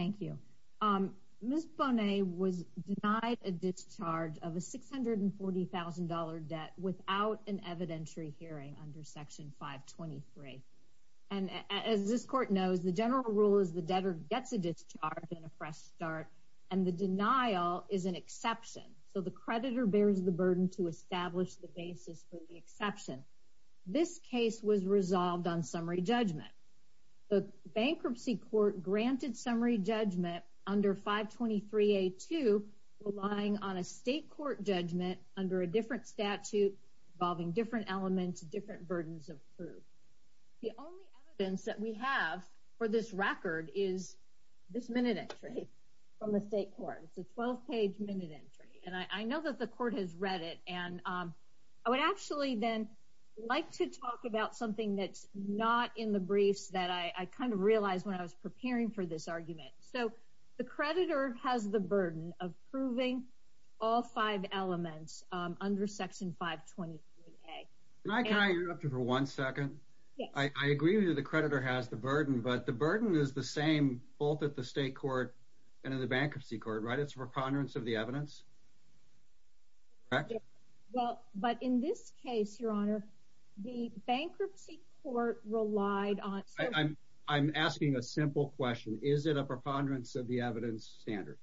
Ms. Bonnett was denied a discharge of a $640,000 debt without an evidentiary hearing under Section 523. As this Court knows, the general rule is the debtor gets a discharge and a fresh start, and the denial is an exception, so the creditor bears the burden to establish the basis for the exception. This case was resolved on summary judgment. The Bankruptcy Court granted summary judgment under 523A2, relying on a state court judgment under a different statute involving different elements, different burdens of proof. The only evidence that we have for this record is this minute entry from the state court. It's a 12-page minute entry, and I know that the Court has read it, and I would actually then like to talk about something that's not in the briefs that I kind of realized when I was preparing for this argument. So the creditor has the burden of proving all five elements under Section 523A. Can I interrupt you for one second? I agree that the creditor has the burden, but the burden is the same both at the state court and in the Bankruptcy Court, right? It's a preponderance of the evidence, correct? Well, but in this case, Your Honor, the Bankruptcy Court relied on... I'm asking a simple question. Is it a preponderance of the evidence standard?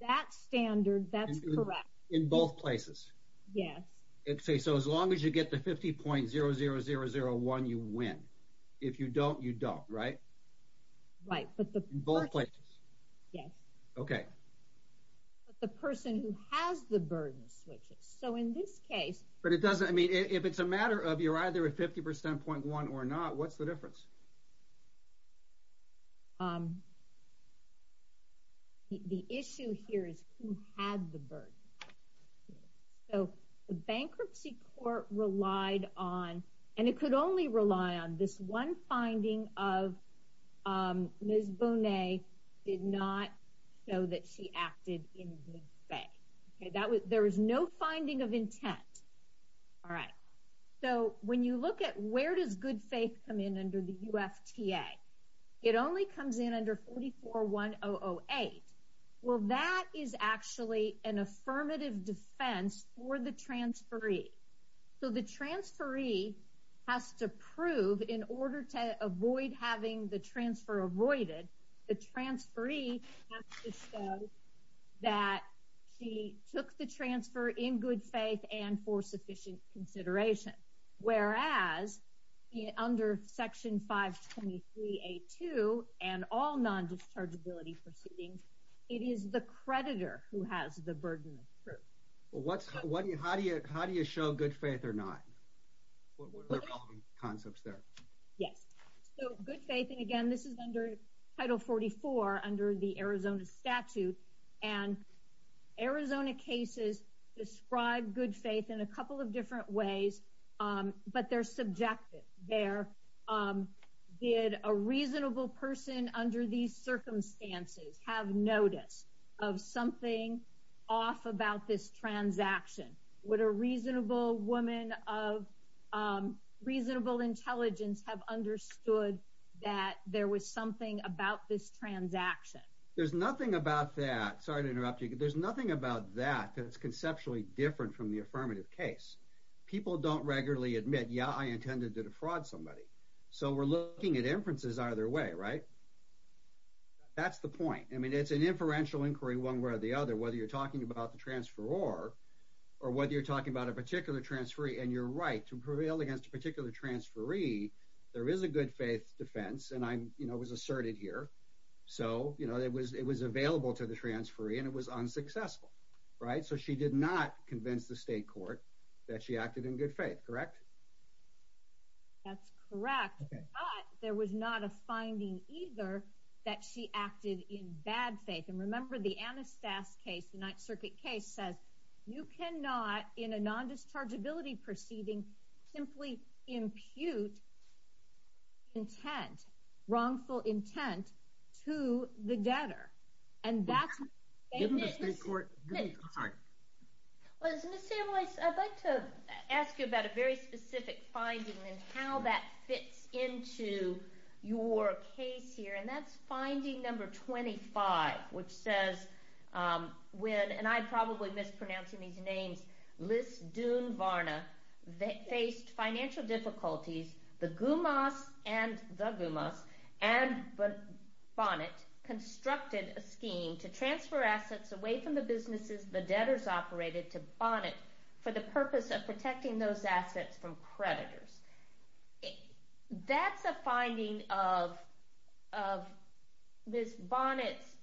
That standard, that's correct. In both places? Yes. Okay, so as long as you get the 50.00001, you win. If you don't, you don't, right? Right. In both places? Yes. Okay. But the person who has the burden switches. So in this case... But it doesn't... I mean, if it's a matter of you're either at 50.00001 or not, what's the difference? The issue here is who had the burden. So the Bankruptcy Court relied on, and it could only rely on, this one finding of Ms. Goodfay. Okay? There was no finding of intent. All right. So when you look at where does Goodfay come in under the UFTA, it only comes in under 44.1008. Well, that is actually an affirmative defense for the transferee. So the transferee has to prove, in order to avoid having the transfer avoided, the transferee has to show that she took the transfer in good faith and for sufficient consideration. Whereas under Section 523A2 and all non-dischargeability proceedings, it is the creditor who has the burden of proof. Well, what's... How do you show good faith or not? What are the concepts there? Yes. So good faith, and again, this is under Title 44 under the Arizona statute. And Arizona cases describe good faith in a couple of different ways, but they're subjective. They're, did a reasonable person under these circumstances have notice of something off about this transaction? Would a reasonable woman of reasonable intelligence have understood that there was something about this transaction? There's nothing about that. Sorry to interrupt you. There's nothing about that that's conceptually different from the affirmative case. People don't regularly admit, yeah, I intended to defraud somebody. So we're looking at inferences either way, right? That's the point. I mean, it's an inferential inquiry one way or the other, whether you're talking about the transferor or whether you're talking about a particular transferee, and you're right, to prevail against a particular transferee, there is a good faith defense, and I was asserted here. So it was available to the transferee and it was unsuccessful, right? So she did not convince the state court that she acted in good faith, correct? That's correct, but there was not a finding either that she acted in bad faith. And remember the Anastas case, the Ninth Circuit case, says you cannot, in a non-dischargeability proceeding, simply impute intent, wrongful intent, to the debtor. And that's... Given the state court... I'm sorry. Well, Ms. Samuels, I'd like to ask you about a very specific finding and how that fits into your case here, and that's finding number 25, which says, when, and I'm probably mispronouncing these names, Liz Dunvarna faced financial difficulties, the GUMAS and Bonnet constructed a scheme to transfer assets away from the businesses the debtors operated to Bonnet for the purpose of protecting those assets from creditors. That's a finding of Ms. Bonnet's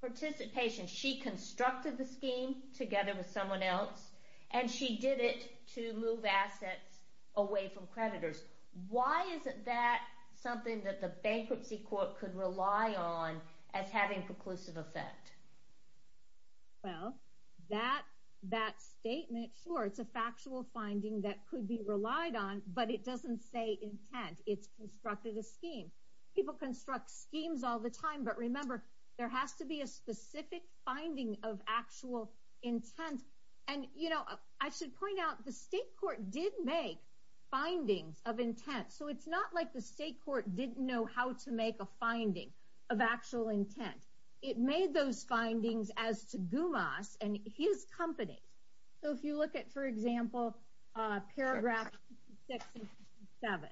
participation. She constructed the scheme together with someone else and she did it to move assets away from creditors. Why isn't that something that the bankruptcy court could rely on as having preclusive effect? Well, that statement, sure, it's a factual finding that could be relied on, but it doesn't say intent. It's constructed a scheme. People construct schemes all the time, but remember, there has to be a specific finding of actual intent. And you know, I should point out, the state court did make findings of intent, so it's not like the state court didn't know how to make a finding of actual intent. It made those findings as to GUMAS and his company. So if you look at, for example, paragraph 67,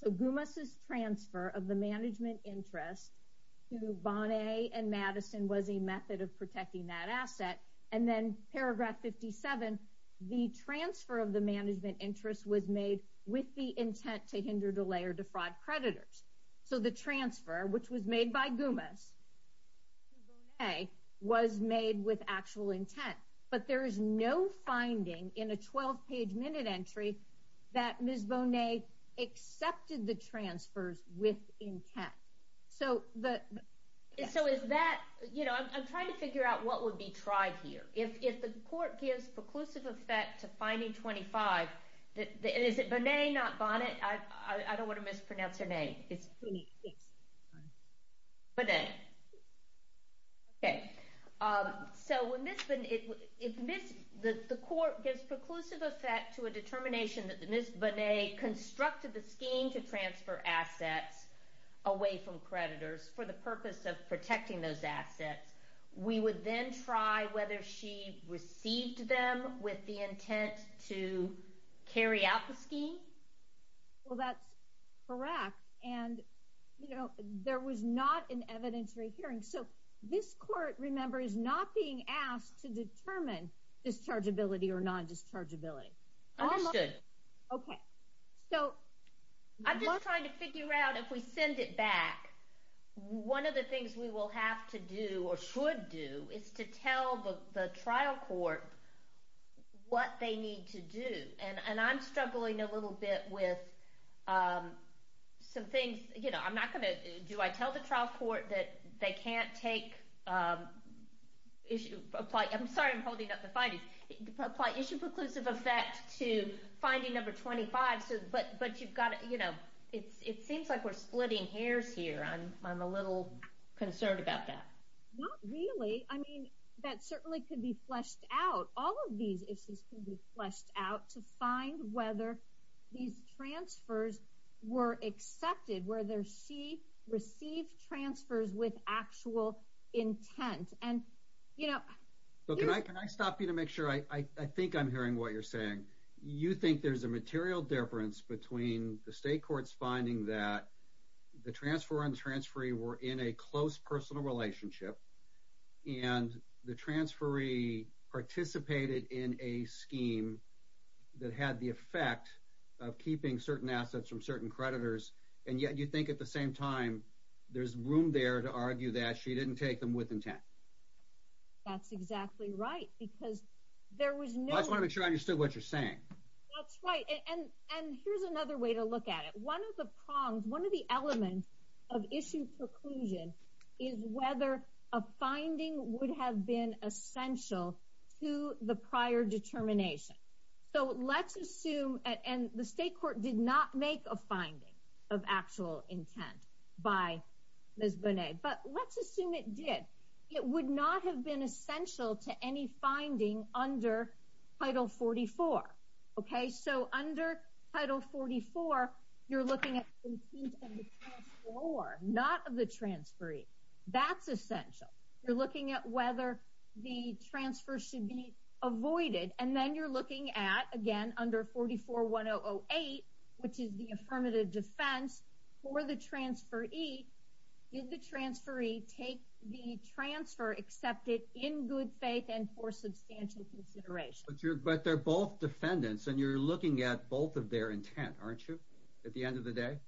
so GUMAS's transfer of the management interest to Bonnet and Madison was a method of protecting that asset. And then paragraph 57, the transfer of the management interest was made with the intent to hinder, delay, or defraud creditors. So the transfer, which was made by GUMAS to Bonnet, was made with actual intent. But there is no finding in a 12-page minute entry that Ms. Bonnet accepted the transfers with intent. So is that, you know, I'm trying to figure out what would be tried here. If the court gives preclusive effect to finding 25, is it Bonnet, not Bonnet? I don't want to mispronounce her name. It's Bonnet. Bonnet. OK. So when Ms. Bonnet, if the court gives preclusive effect to a determination that Ms. Bonnet constructed the scheme to transfer assets away from creditors for the purpose of protecting those assets, we would then try whether she received them with the intent to carry out the scheme? Well, that's correct. And, you know, there was not an evidentiary hearing. So this court, remember, is not being asked to determine dischargeability or non-dischargeability. Understood. OK. So I'm just trying to figure out if we send it back, one of the things we will have to do or should do is to tell the trial court what they need to do. And I'm struggling a little bit with some things. You know, I'm not going to, do I tell the trial court that they can't take issue, apply, I'm sorry I'm holding up the findings, apply issue preclusive effect to finding number 25, but you've got to, you know, it seems like we're splitting hairs here. I'm a little concerned about that. Not really. I mean, that certainly could be fleshed out. All of these issues could be fleshed out to find whether these transfers were accepted, whether she received transfers with actual intent. And, you know. Can I stop you to make sure? I think I'm hearing what you're saying. You think there's a material difference between the state courts finding that the transfer and transferee were in a close personal relationship and the transferee participated in a scheme that had the effect of keeping certain assets from certain creditors, and yet you think at the same time there's room there to argue that she didn't take them with intent. That's exactly right, because there was no. I just want to make sure I understood what you're saying. That's right, and here's another way to look at it. One of the prongs, one of the elements of issue preclusion is whether a finding would have been essential to the prior determination. So, let's assume, and the state court did not make a finding of actual intent by Ms. Bonet, but let's assume it did. It would not have been essential to any finding under Title 44. Okay, so under Title 44, you're looking at the intent of the transferee, not of the transferee. That's essential. You're looking at whether the transfer should be avoided, and then you're looking at, again, under 44-1008, which is the affirmative defense for the transferee. Did the transferee take the transfer, accept it in good faith and for substantial consideration? But they're both defendants, and you're looking at both of their intent, aren't you, at the end of the day?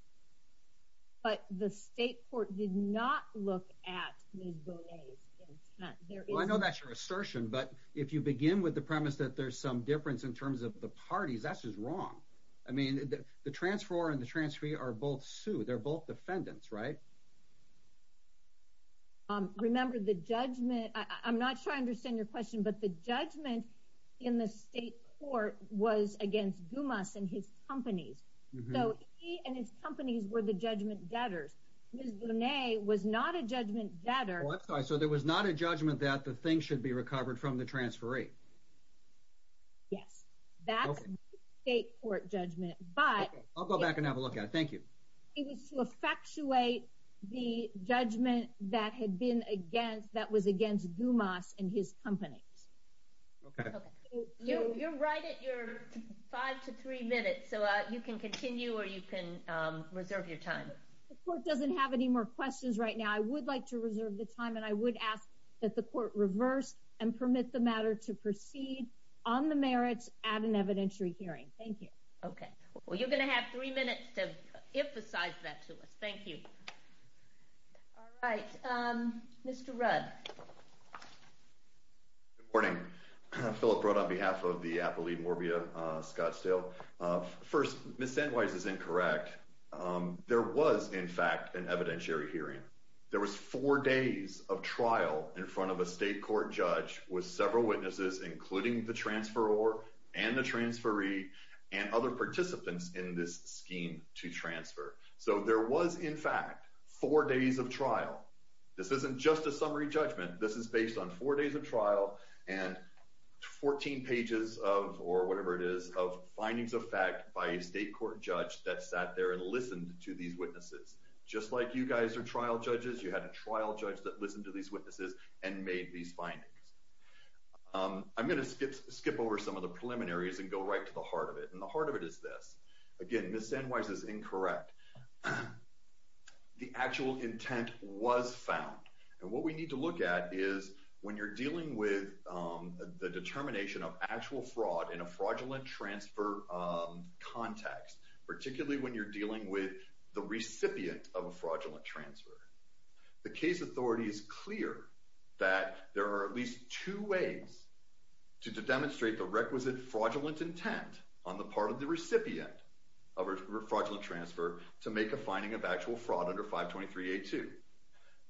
But the state court did not look at Ms. Bonet's intent. Well, I know that's your assertion, but if you begin with the premise that there's some difference in terms of the parties, that's just wrong. I mean, the transferor and the transferee are both sued. They're both defendants, right? Remember, the judgment, I'm not sure I understand your question, but the judgment in the state court was against Gumas and his companies. So he and his companies were the judgment debtors. Ms. Bonet was not a judgment debtor. Well, I'm sorry, so there was not a judgment that the thing should be recovered from the transferee? Yes, that's the state court judgment, but... Okay, I'll go back and have a look at it. Thank you. It was to effectuate the judgment that was against Gumas and his companies. Okay. You're right at your five to three minutes, so you can continue or you can reserve your time. The court doesn't have any more questions right now. I would like to reserve the time, and I would ask that the court reverse and permit the matter to proceed on the merits at an evidentiary hearing. Thank you. Okay. Well, you're going to have three minutes to emphasize that to us. Thank you. All right. Mr. Rudd. Good morning. Phillip Rudd on behalf of the Appalachian Morbia Scottsdale. First, Ms. St. Wise is incorrect. There was, in fact, an evidentiary hearing. There was four days of trial in front of a state court judge with several witnesses, including the transferor and the transferee and other participants in this scheme to transfer. So there was, in fact, four days of trial. This isn't just a summary judgment. This is based on four days of trial and 14 pages of, or whatever it is, of findings of fact by a state court judge that sat there and listened to these witnesses. Just like you guys are trial judges, you had a trial judge that listened to these witnesses and made these findings. I'm going to skip over some of the preliminaries and go right to the heart of it. And the heart of it is this. Again, Ms. St. Wise is incorrect. The actual intent was found. And what we need to look at is when you're dealing with the determination of actual fraud in a fraudulent transfer context, particularly when you're dealing with the recipient of a fraudulent transfer, the case authority is clear that there are at least two ways to demonstrate the requisite fraudulent intent on the part of the recipient of a fraudulent transfer to make a finding of actual fraud under 523A2.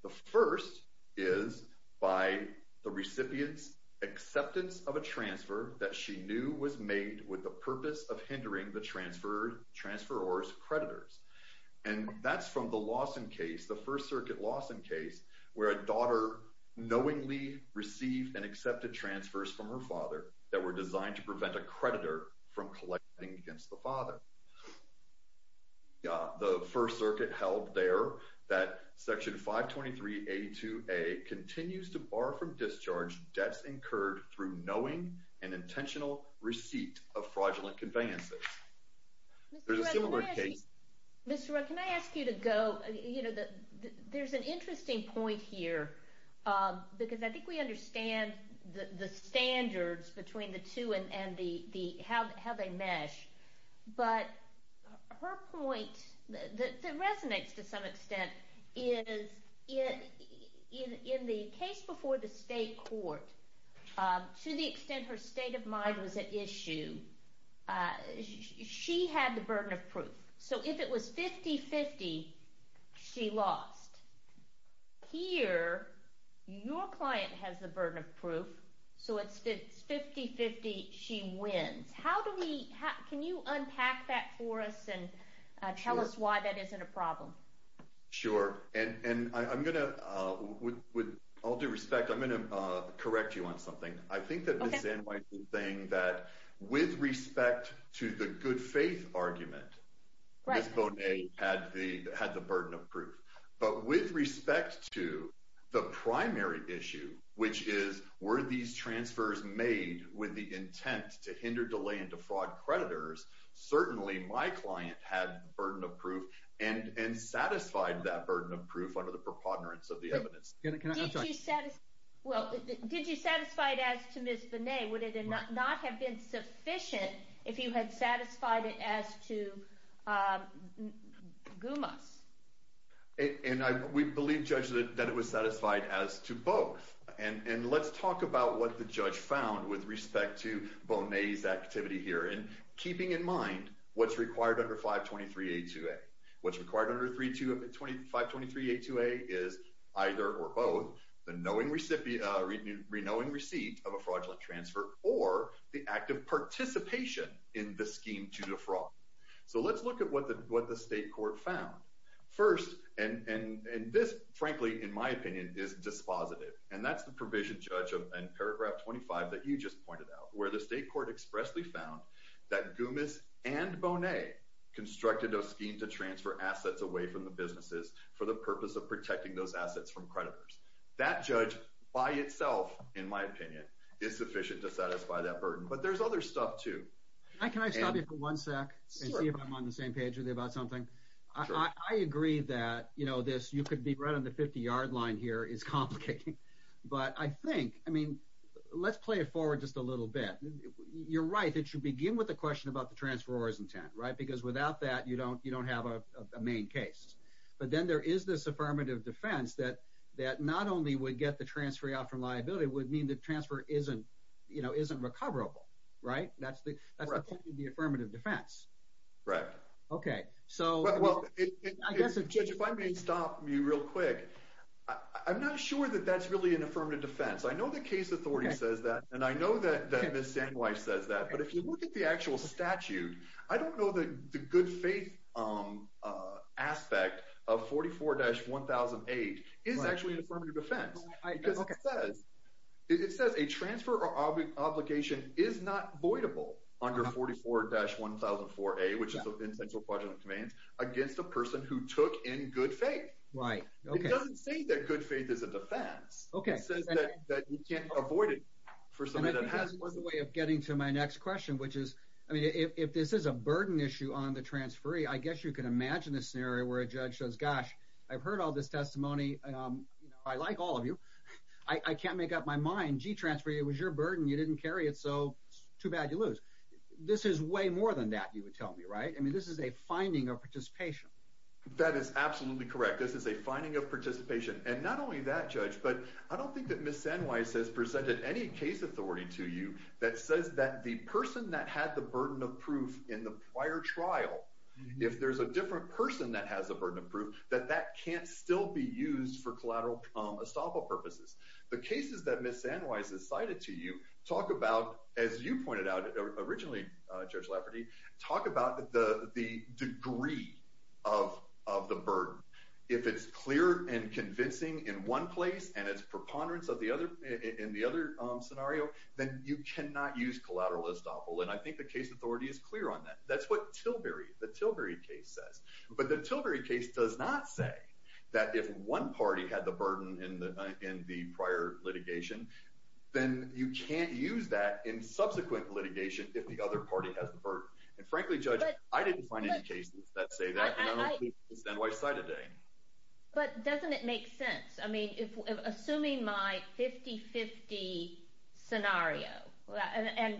The first is by the recipient's acceptance of a transfer that she knew was made with the purpose of hindering the transferor's creditors. And that's from the Lawson case, the First Circuit Lawson case, where a daughter knowingly received and accepted transfers from her father that were designed to prevent a creditor from collecting against the father. The First Circuit held there that Section 523A2a continues to bar from discharge debts incurred through knowing and intentional receipt of fraudulent conveyances. There's a similar case. Mr. Rowe, can I ask you to go, you know, there's an interesting point here because I think we understand the standards between the two and how they mesh. But her point that resonates to some extent is in the case before the state court, to the extent her state of mind was at issue, she had the burden of proof. So if it was 50-50, she lost. Here, your client has the burden of proof, so it's 50-50, she wins. How do we, can you unpack that for us and tell us why that isn't a problem? Sure. And I'm going to, with all due respect, I'm going to correct you on something. I think that Ms. Anne White was saying that with respect to the good faith argument, Ms. Bonet had the burden of proof. But with respect to the primary issue, which is were these transfers made with the intent to hinder, delay, and defraud creditors, certainly my client had the burden of proof and satisfied that burden of proof under the preponderance of the evidence. Did you satisfy it as to Ms. Bonet? Would it not have been sufficient if you had satisfied it as to Gumas? And we believe, Judge, that it was satisfied as to both. And let's talk about what the judge found with respect to Bonet's activity here. And keeping in mind what's required under 523A2A. What's required under 523A2A is either or both the knowing receipt of a fraudulent transfer or the act of participation in the scheme to defraud. So let's look at what the state court found. First, and this, frankly, in my opinion, is dispositive, and that's the provision, Judge, in paragraph 25 that you just pointed out, where the state court expressly found that Gumas and Bonet constructed a scheme to transfer assets away from the businesses for the purpose of protecting those assets from creditors. That, Judge, by itself, in my opinion, is sufficient to satisfy that burden. But there's other stuff, too. Can I stop you for one sec and see if I'm on the same page with you about something? I agree that, you know, this you could be right on the 50-yard line here is complicating. But I think, I mean, let's play it forward just a little bit. You're right that you begin with the question about the transferor's intent, right? Because without that, you don't have a main case. But then there is this affirmative defense that not only would get the transfer out from liability, it would mean the transfer isn't, you know, isn't recoverable, right? That's the point of the affirmative defense. Right. Okay. Well, Judge, if I may stop you real quick, I'm not sure that that's really an affirmative defense. I know the case authority says that, and I know that Ms. Sandwife says that. But if you look at the actual statute, I don't know that the good faith aspect of 44-1008 is actually an affirmative defense. Because it says a transfer or obligation is not voidable under 44-1004A, which is the Intentional Quadrant of Commands, against a person who took in good faith. Right. Okay. It doesn't say that good faith is a defense. Okay. It says that you can't avoid it for somebody that has it. And I think that's one way of getting to my next question, which is, I mean, if this is a burden issue on the transferee, I guess you can imagine a scenario where a judge says, gosh, I've heard all this testimony. I like all of you. I can't make up my mind. Gee, transferee, it was your burden. You didn't carry it, so too bad you lose. This is way more than that, you would tell me, right? I mean, this is a finding of participation. That is absolutely correct. This is a finding of participation. And not only that, Judge, but I don't think that Ms. Sandwife has presented any case authority to you that says that the person that had the burden of proof in the prior trial, if there's a different person that has a burden of proof, that that can't still be used for collateral estoppel purposes. The cases that Ms. Sandwife has cited to you talk about, as you pointed out originally, Judge Lafferty, talk about the degree of the burden. If it's clear and convincing in one place and it's preponderance in the other scenario, then you cannot use collateral estoppel. And I think the case authority is clear on that. That's what Tilbury, the Tilbury case says. But the Tilbury case does not say that if one party had the burden in the prior litigation, then you can't use that in subsequent litigation if the other party has the burden. And frankly, Judge, I didn't find any cases that say that, and I don't think Ms. Sandwife cited any. But doesn't it make sense? I mean, assuming my 50-50 scenario, and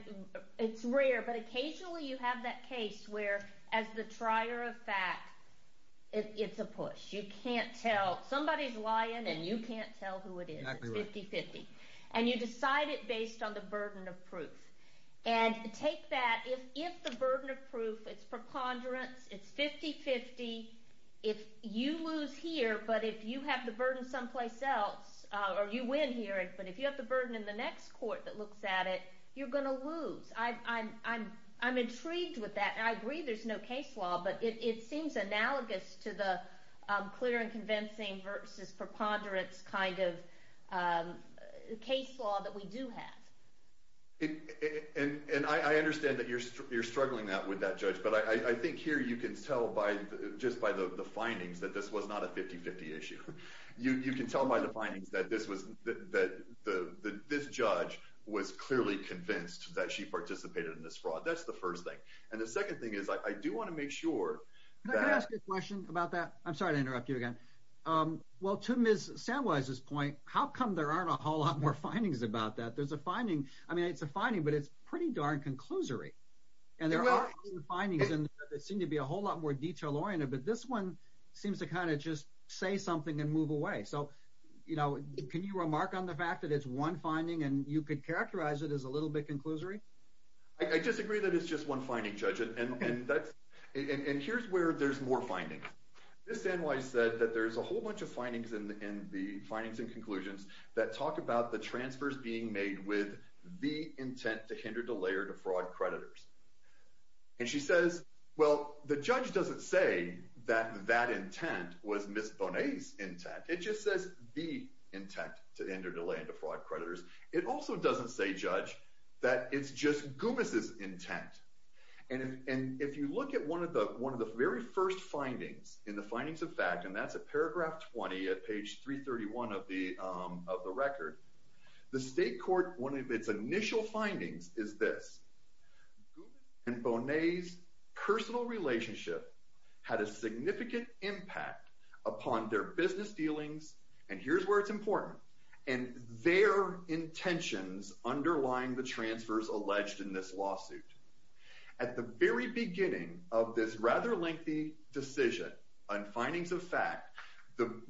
it's rare, but occasionally you have that case where, as the trier of fact, it's a push. You can't tell. Somebody's lying and you can't tell who it is. It's 50-50. And you decide it based on the burden of proof. And take that. If the burden of proof, it's preponderance, it's 50-50, if you lose here, but if you have the burden someplace else, or you win here, but if you have the burden in the next court that looks at it, you're going to lose. I'm intrigued with that, and I agree there's no case law, but it seems analogous to the clear and convincing versus preponderance kind of case law that we do have. And I understand that you're struggling with that, Judge, but I think here you can tell just by the findings that this was not a 50-50 issue. You can tell by the findings that this judge was clearly convinced that she participated in this fraud. That's the first thing. And the second thing is I do want to make sure that — Can I ask a question about that? I'm sorry to interrupt you again. Well, to Ms. Sandwife's point, how come there aren't a whole lot more findings about that? There's a finding. I mean, it's a finding, but it's pretty darn conclusory. And there are some findings that seem to be a whole lot more detail-oriented, but this one seems to kind of just say something and move away. So, you know, can you remark on the fact that it's one finding and you could characterize it as a little bit conclusory? I disagree that it's just one finding, Judge, and here's where there's more findings. Ms. Sandwife said that there's a whole bunch of findings in the findings and conclusions that talk about the transfers being made with the intent to hinder, delay, or defraud creditors. And she says, well, the judge doesn't say that that intent was Ms. Bonet's intent. It just says the intent to hinder, delay, and defraud creditors. It also doesn't say, Judge, that it's just Gubas's intent. And if you look at one of the very first findings in the findings of fact, and that's at paragraph 20 at page 331 of the record, the state court, one of its initial findings is this. Gubas and Bonet's personal relationship had a significant impact upon their business dealings, and here's where it's important, and their intentions underlying the transfers alleged in this lawsuit. At the very beginning of this rather lengthy decision on findings of fact,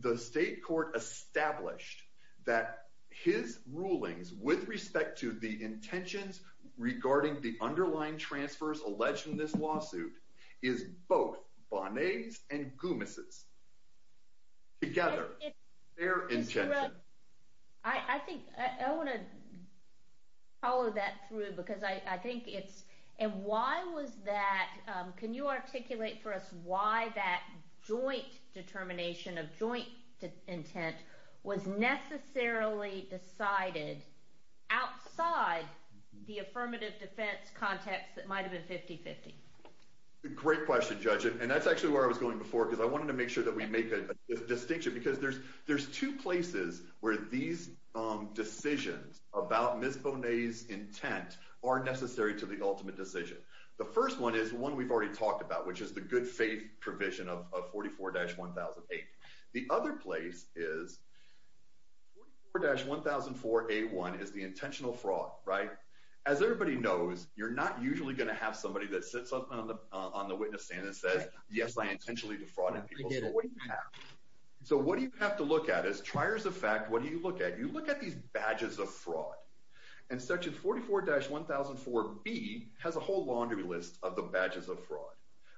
the state court established that his rulings with respect to the intentions regarding the underlying transfers alleged in this lawsuit is both Bonet's and Gubas's. Together, their intentions. I think I want to follow that through because I think it's— and why was that—can you articulate for us why that joint determination of joint intent was necessarily decided outside the affirmative defense context that might have been 50-50? Great question, Judge, and that's actually where I was going before because I wanted to make sure that we make a distinction because there's two places where these decisions about Ms. Bonet's intent are necessary to the ultimate decision. The first one is one we've already talked about, which is the good faith provision of 44-1008. The other place is 44-1004A1 is the intentional fraud, right? As everybody knows, you're not usually going to have somebody that sits on the witness stand and says, yes, I intentionally defrauded people, so what do you have? So what do you have to look at as triers of fact? What do you look at? You look at these badges of fraud, and section 44-1004B has a whole laundry list of the badges of fraud,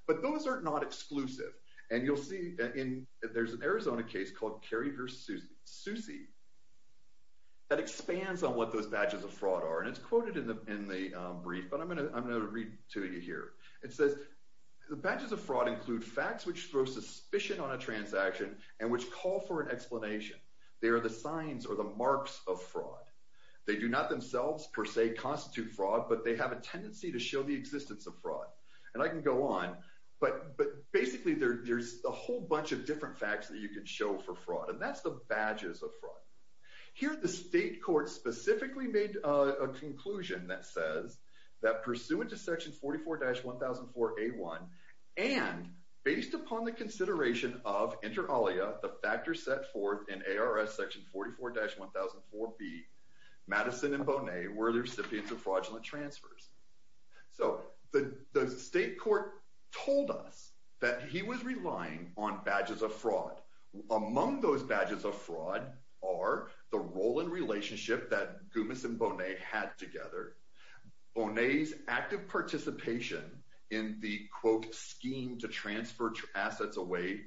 but those are not exclusive, and you'll see that in— there's an Arizona case called Carey v. Soucy that expands on what those badges of fraud are, and it's quoted in the brief, but I'm going to read it to you here. It says, the badges of fraud include facts which throw suspicion on a transaction and which call for an explanation. They are the signs or the marks of fraud. They do not themselves, per se, constitute fraud, but they have a tendency to show the existence of fraud. And I can go on, but basically there's a whole bunch of different facts that you can show for fraud, and that's the badges of fraud. Here, the state court specifically made a conclusion that says that, pursuant to section 44-1004A1, and based upon the consideration of inter alia, the factors set forth in ARS section 44-1004B, Madison and Bonet were the recipients of fraudulent transfers. So the state court told us that he was relying on badges of fraud. Among those badges of fraud are the role and relationship that Gumis and Bonet had together, Bonet's active participation in the, quote, scheme to transfer assets away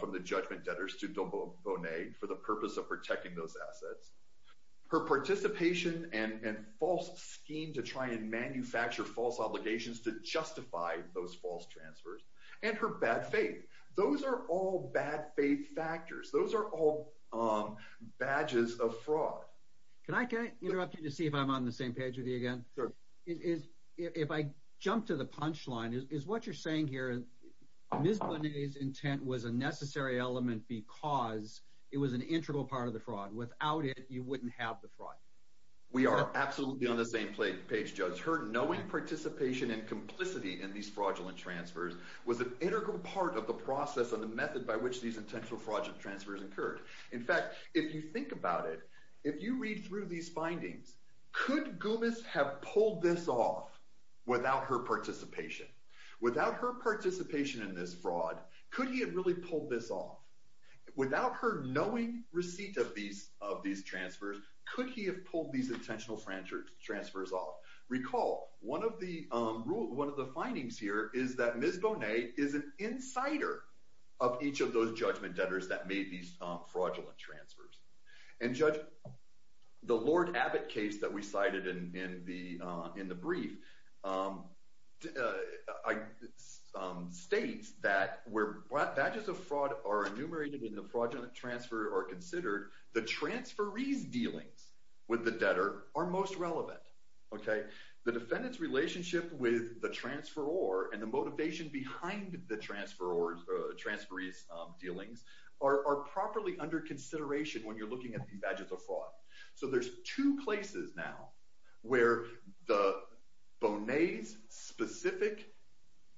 from the judgment debtors to Bonet for the purpose of protecting those assets, her participation and false scheme to try and manufacture false obligations to justify those false transfers, and her bad faith. Those are all bad faith factors. Those are all badges of fraud. Can I interrupt you to see if I'm on the same page with you again? Sure. If I jump to the punchline, is what you're saying here, Ms. Bonet's intent was a necessary element because it was an integral part of the fraud. Without it, you wouldn't have the fraud. We are absolutely on the same page, Judge. Her knowing participation and complicity in these fraudulent transfers was an integral part of the process and the method by which these intentional fraudulent transfers occurred. In fact, if you think about it, if you read through these findings, could Gumis have pulled this off without her participation? Without her participation in this fraud, could he have really pulled this off? Without her knowing receipt of these transfers, could he have pulled these intentional transfers off? Recall, one of the findings here is that Ms. Bonet is an insider of each of those judgment debtors that made these fraudulent transfers. And Judge, the Lord Abbott case that we cited in the brief states that where badges of fraud are enumerated in the fraudulent transfer are considered, the transferee's dealings with the debtor are most relevant. The defendant's relationship with the transferor and the motivation behind the transferee's dealings are properly under consideration when you're looking at these badges of fraud. So there's two places now where the Bonet's specific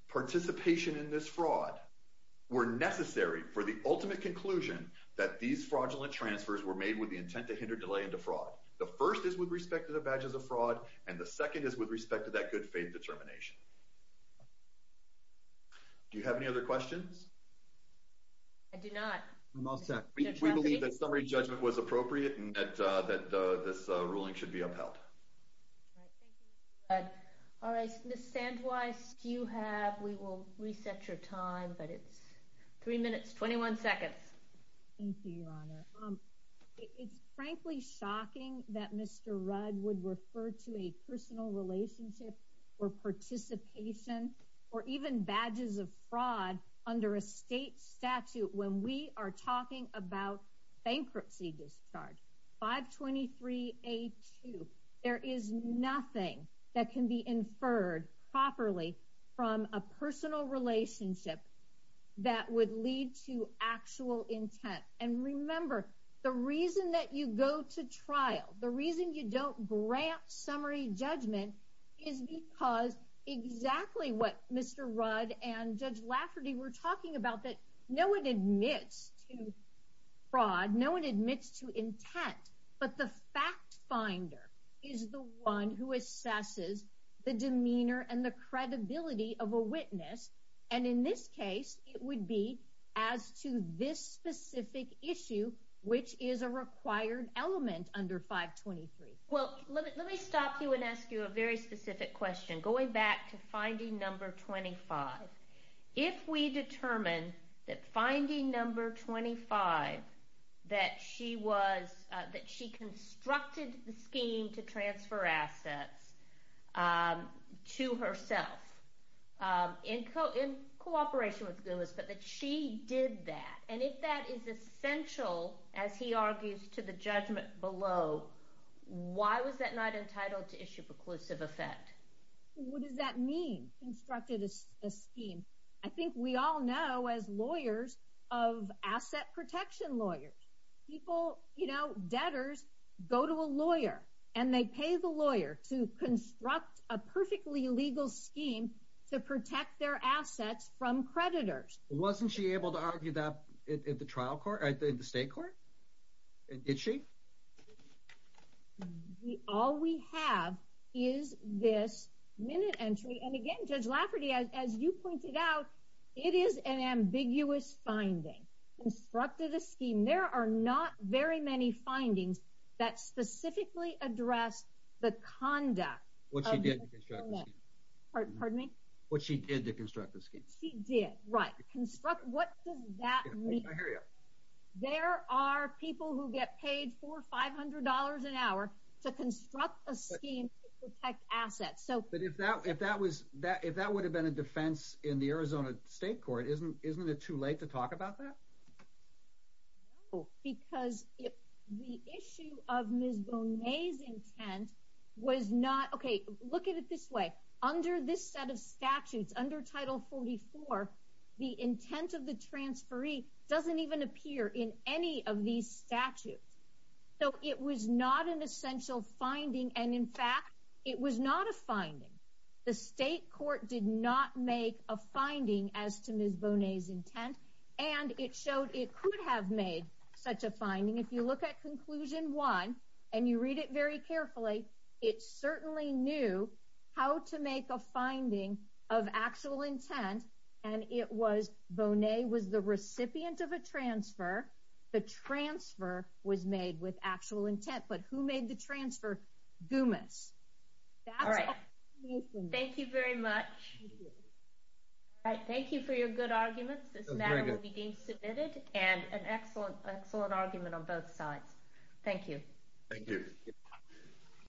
participation in this fraud were necessary for the ultimate conclusion that these fraudulent transfers were made with the intent to hinder delay into fraud. The first is with respect to the badges of fraud, and the second is with respect to that good faith determination. Do you have any other questions? I do not. We believe that summary judgment was appropriate and that this ruling should be upheld. Thank you, Mr. Rudd. All right, Ms. Sandweiss, do you have, we will reset your time, but it's three minutes, 21 seconds. Thank you, Your Honor. It's frankly shocking that Mr. Rudd would refer to a personal relationship or participation or even badges of fraud under a state statute when we are talking about bankruptcy discharge. 523A2, there is nothing that can be inferred properly from a personal relationship that would lead to actual intent. And remember, the reason that you go to trial, the reason you don't grant summary judgment is because exactly what Mr. Rudd and Judge Lafferty were talking about, that no one admits to fraud, no one admits to intent, but the fact finder is the one who assesses the demeanor and the credibility of a witness. And in this case, it would be as to this specific issue, which is a required element under 523. Well, let me stop you and ask you a very specific question, going back to finding number 25. If we determine that finding number 25, that she constructed the scheme to transfer assets to herself in cooperation with Goomis, but that she did that, and if that is essential, as he argues, to the judgment below, why was that not entitled to issue preclusive effect? What does that mean, constructed a scheme? I think we all know as lawyers of asset protection lawyers, people, you know, debtors go to a lawyer and they pay the lawyer to construct a perfectly legal scheme to protect their assets from creditors. Wasn't she able to argue that at the trial court, at the state court? Did she? All we have is this minute entry, and again, Judge Lafferty, as you pointed out, it is an ambiguous finding. Constructed a scheme. There are not very many findings that specifically address the conduct of the plaintiff. What she did to construct the scheme. Pardon me? What she did to construct the scheme. She did, right. What does that mean? I hear you. There are people who get paid $400, $500 an hour to construct a scheme to protect assets. But if that would have been a defense in the Arizona state court, isn't it too late to talk about that? No, because the issue of Ms. Bonet's intent was not, okay, look at it this way. Under this set of statutes, under Title 44, the intent of the transferee doesn't even appear in any of these statutes. So it was not an essential finding, and in fact, it was not a finding. The state court did not make a finding as to Ms. Bonet's intent, and it showed it could have made such a finding. If you look at Conclusion 1, and you read it very carefully, it certainly knew how to make a finding of actual intent, and it was Bonet was the recipient of a transfer. The transfer was made with actual intent, but who made the transfer? Gumas. All right. Thank you very much. All right, thank you for your good arguments. This matter will be being submitted, and an excellent argument on both sides. Thank you. Thank you.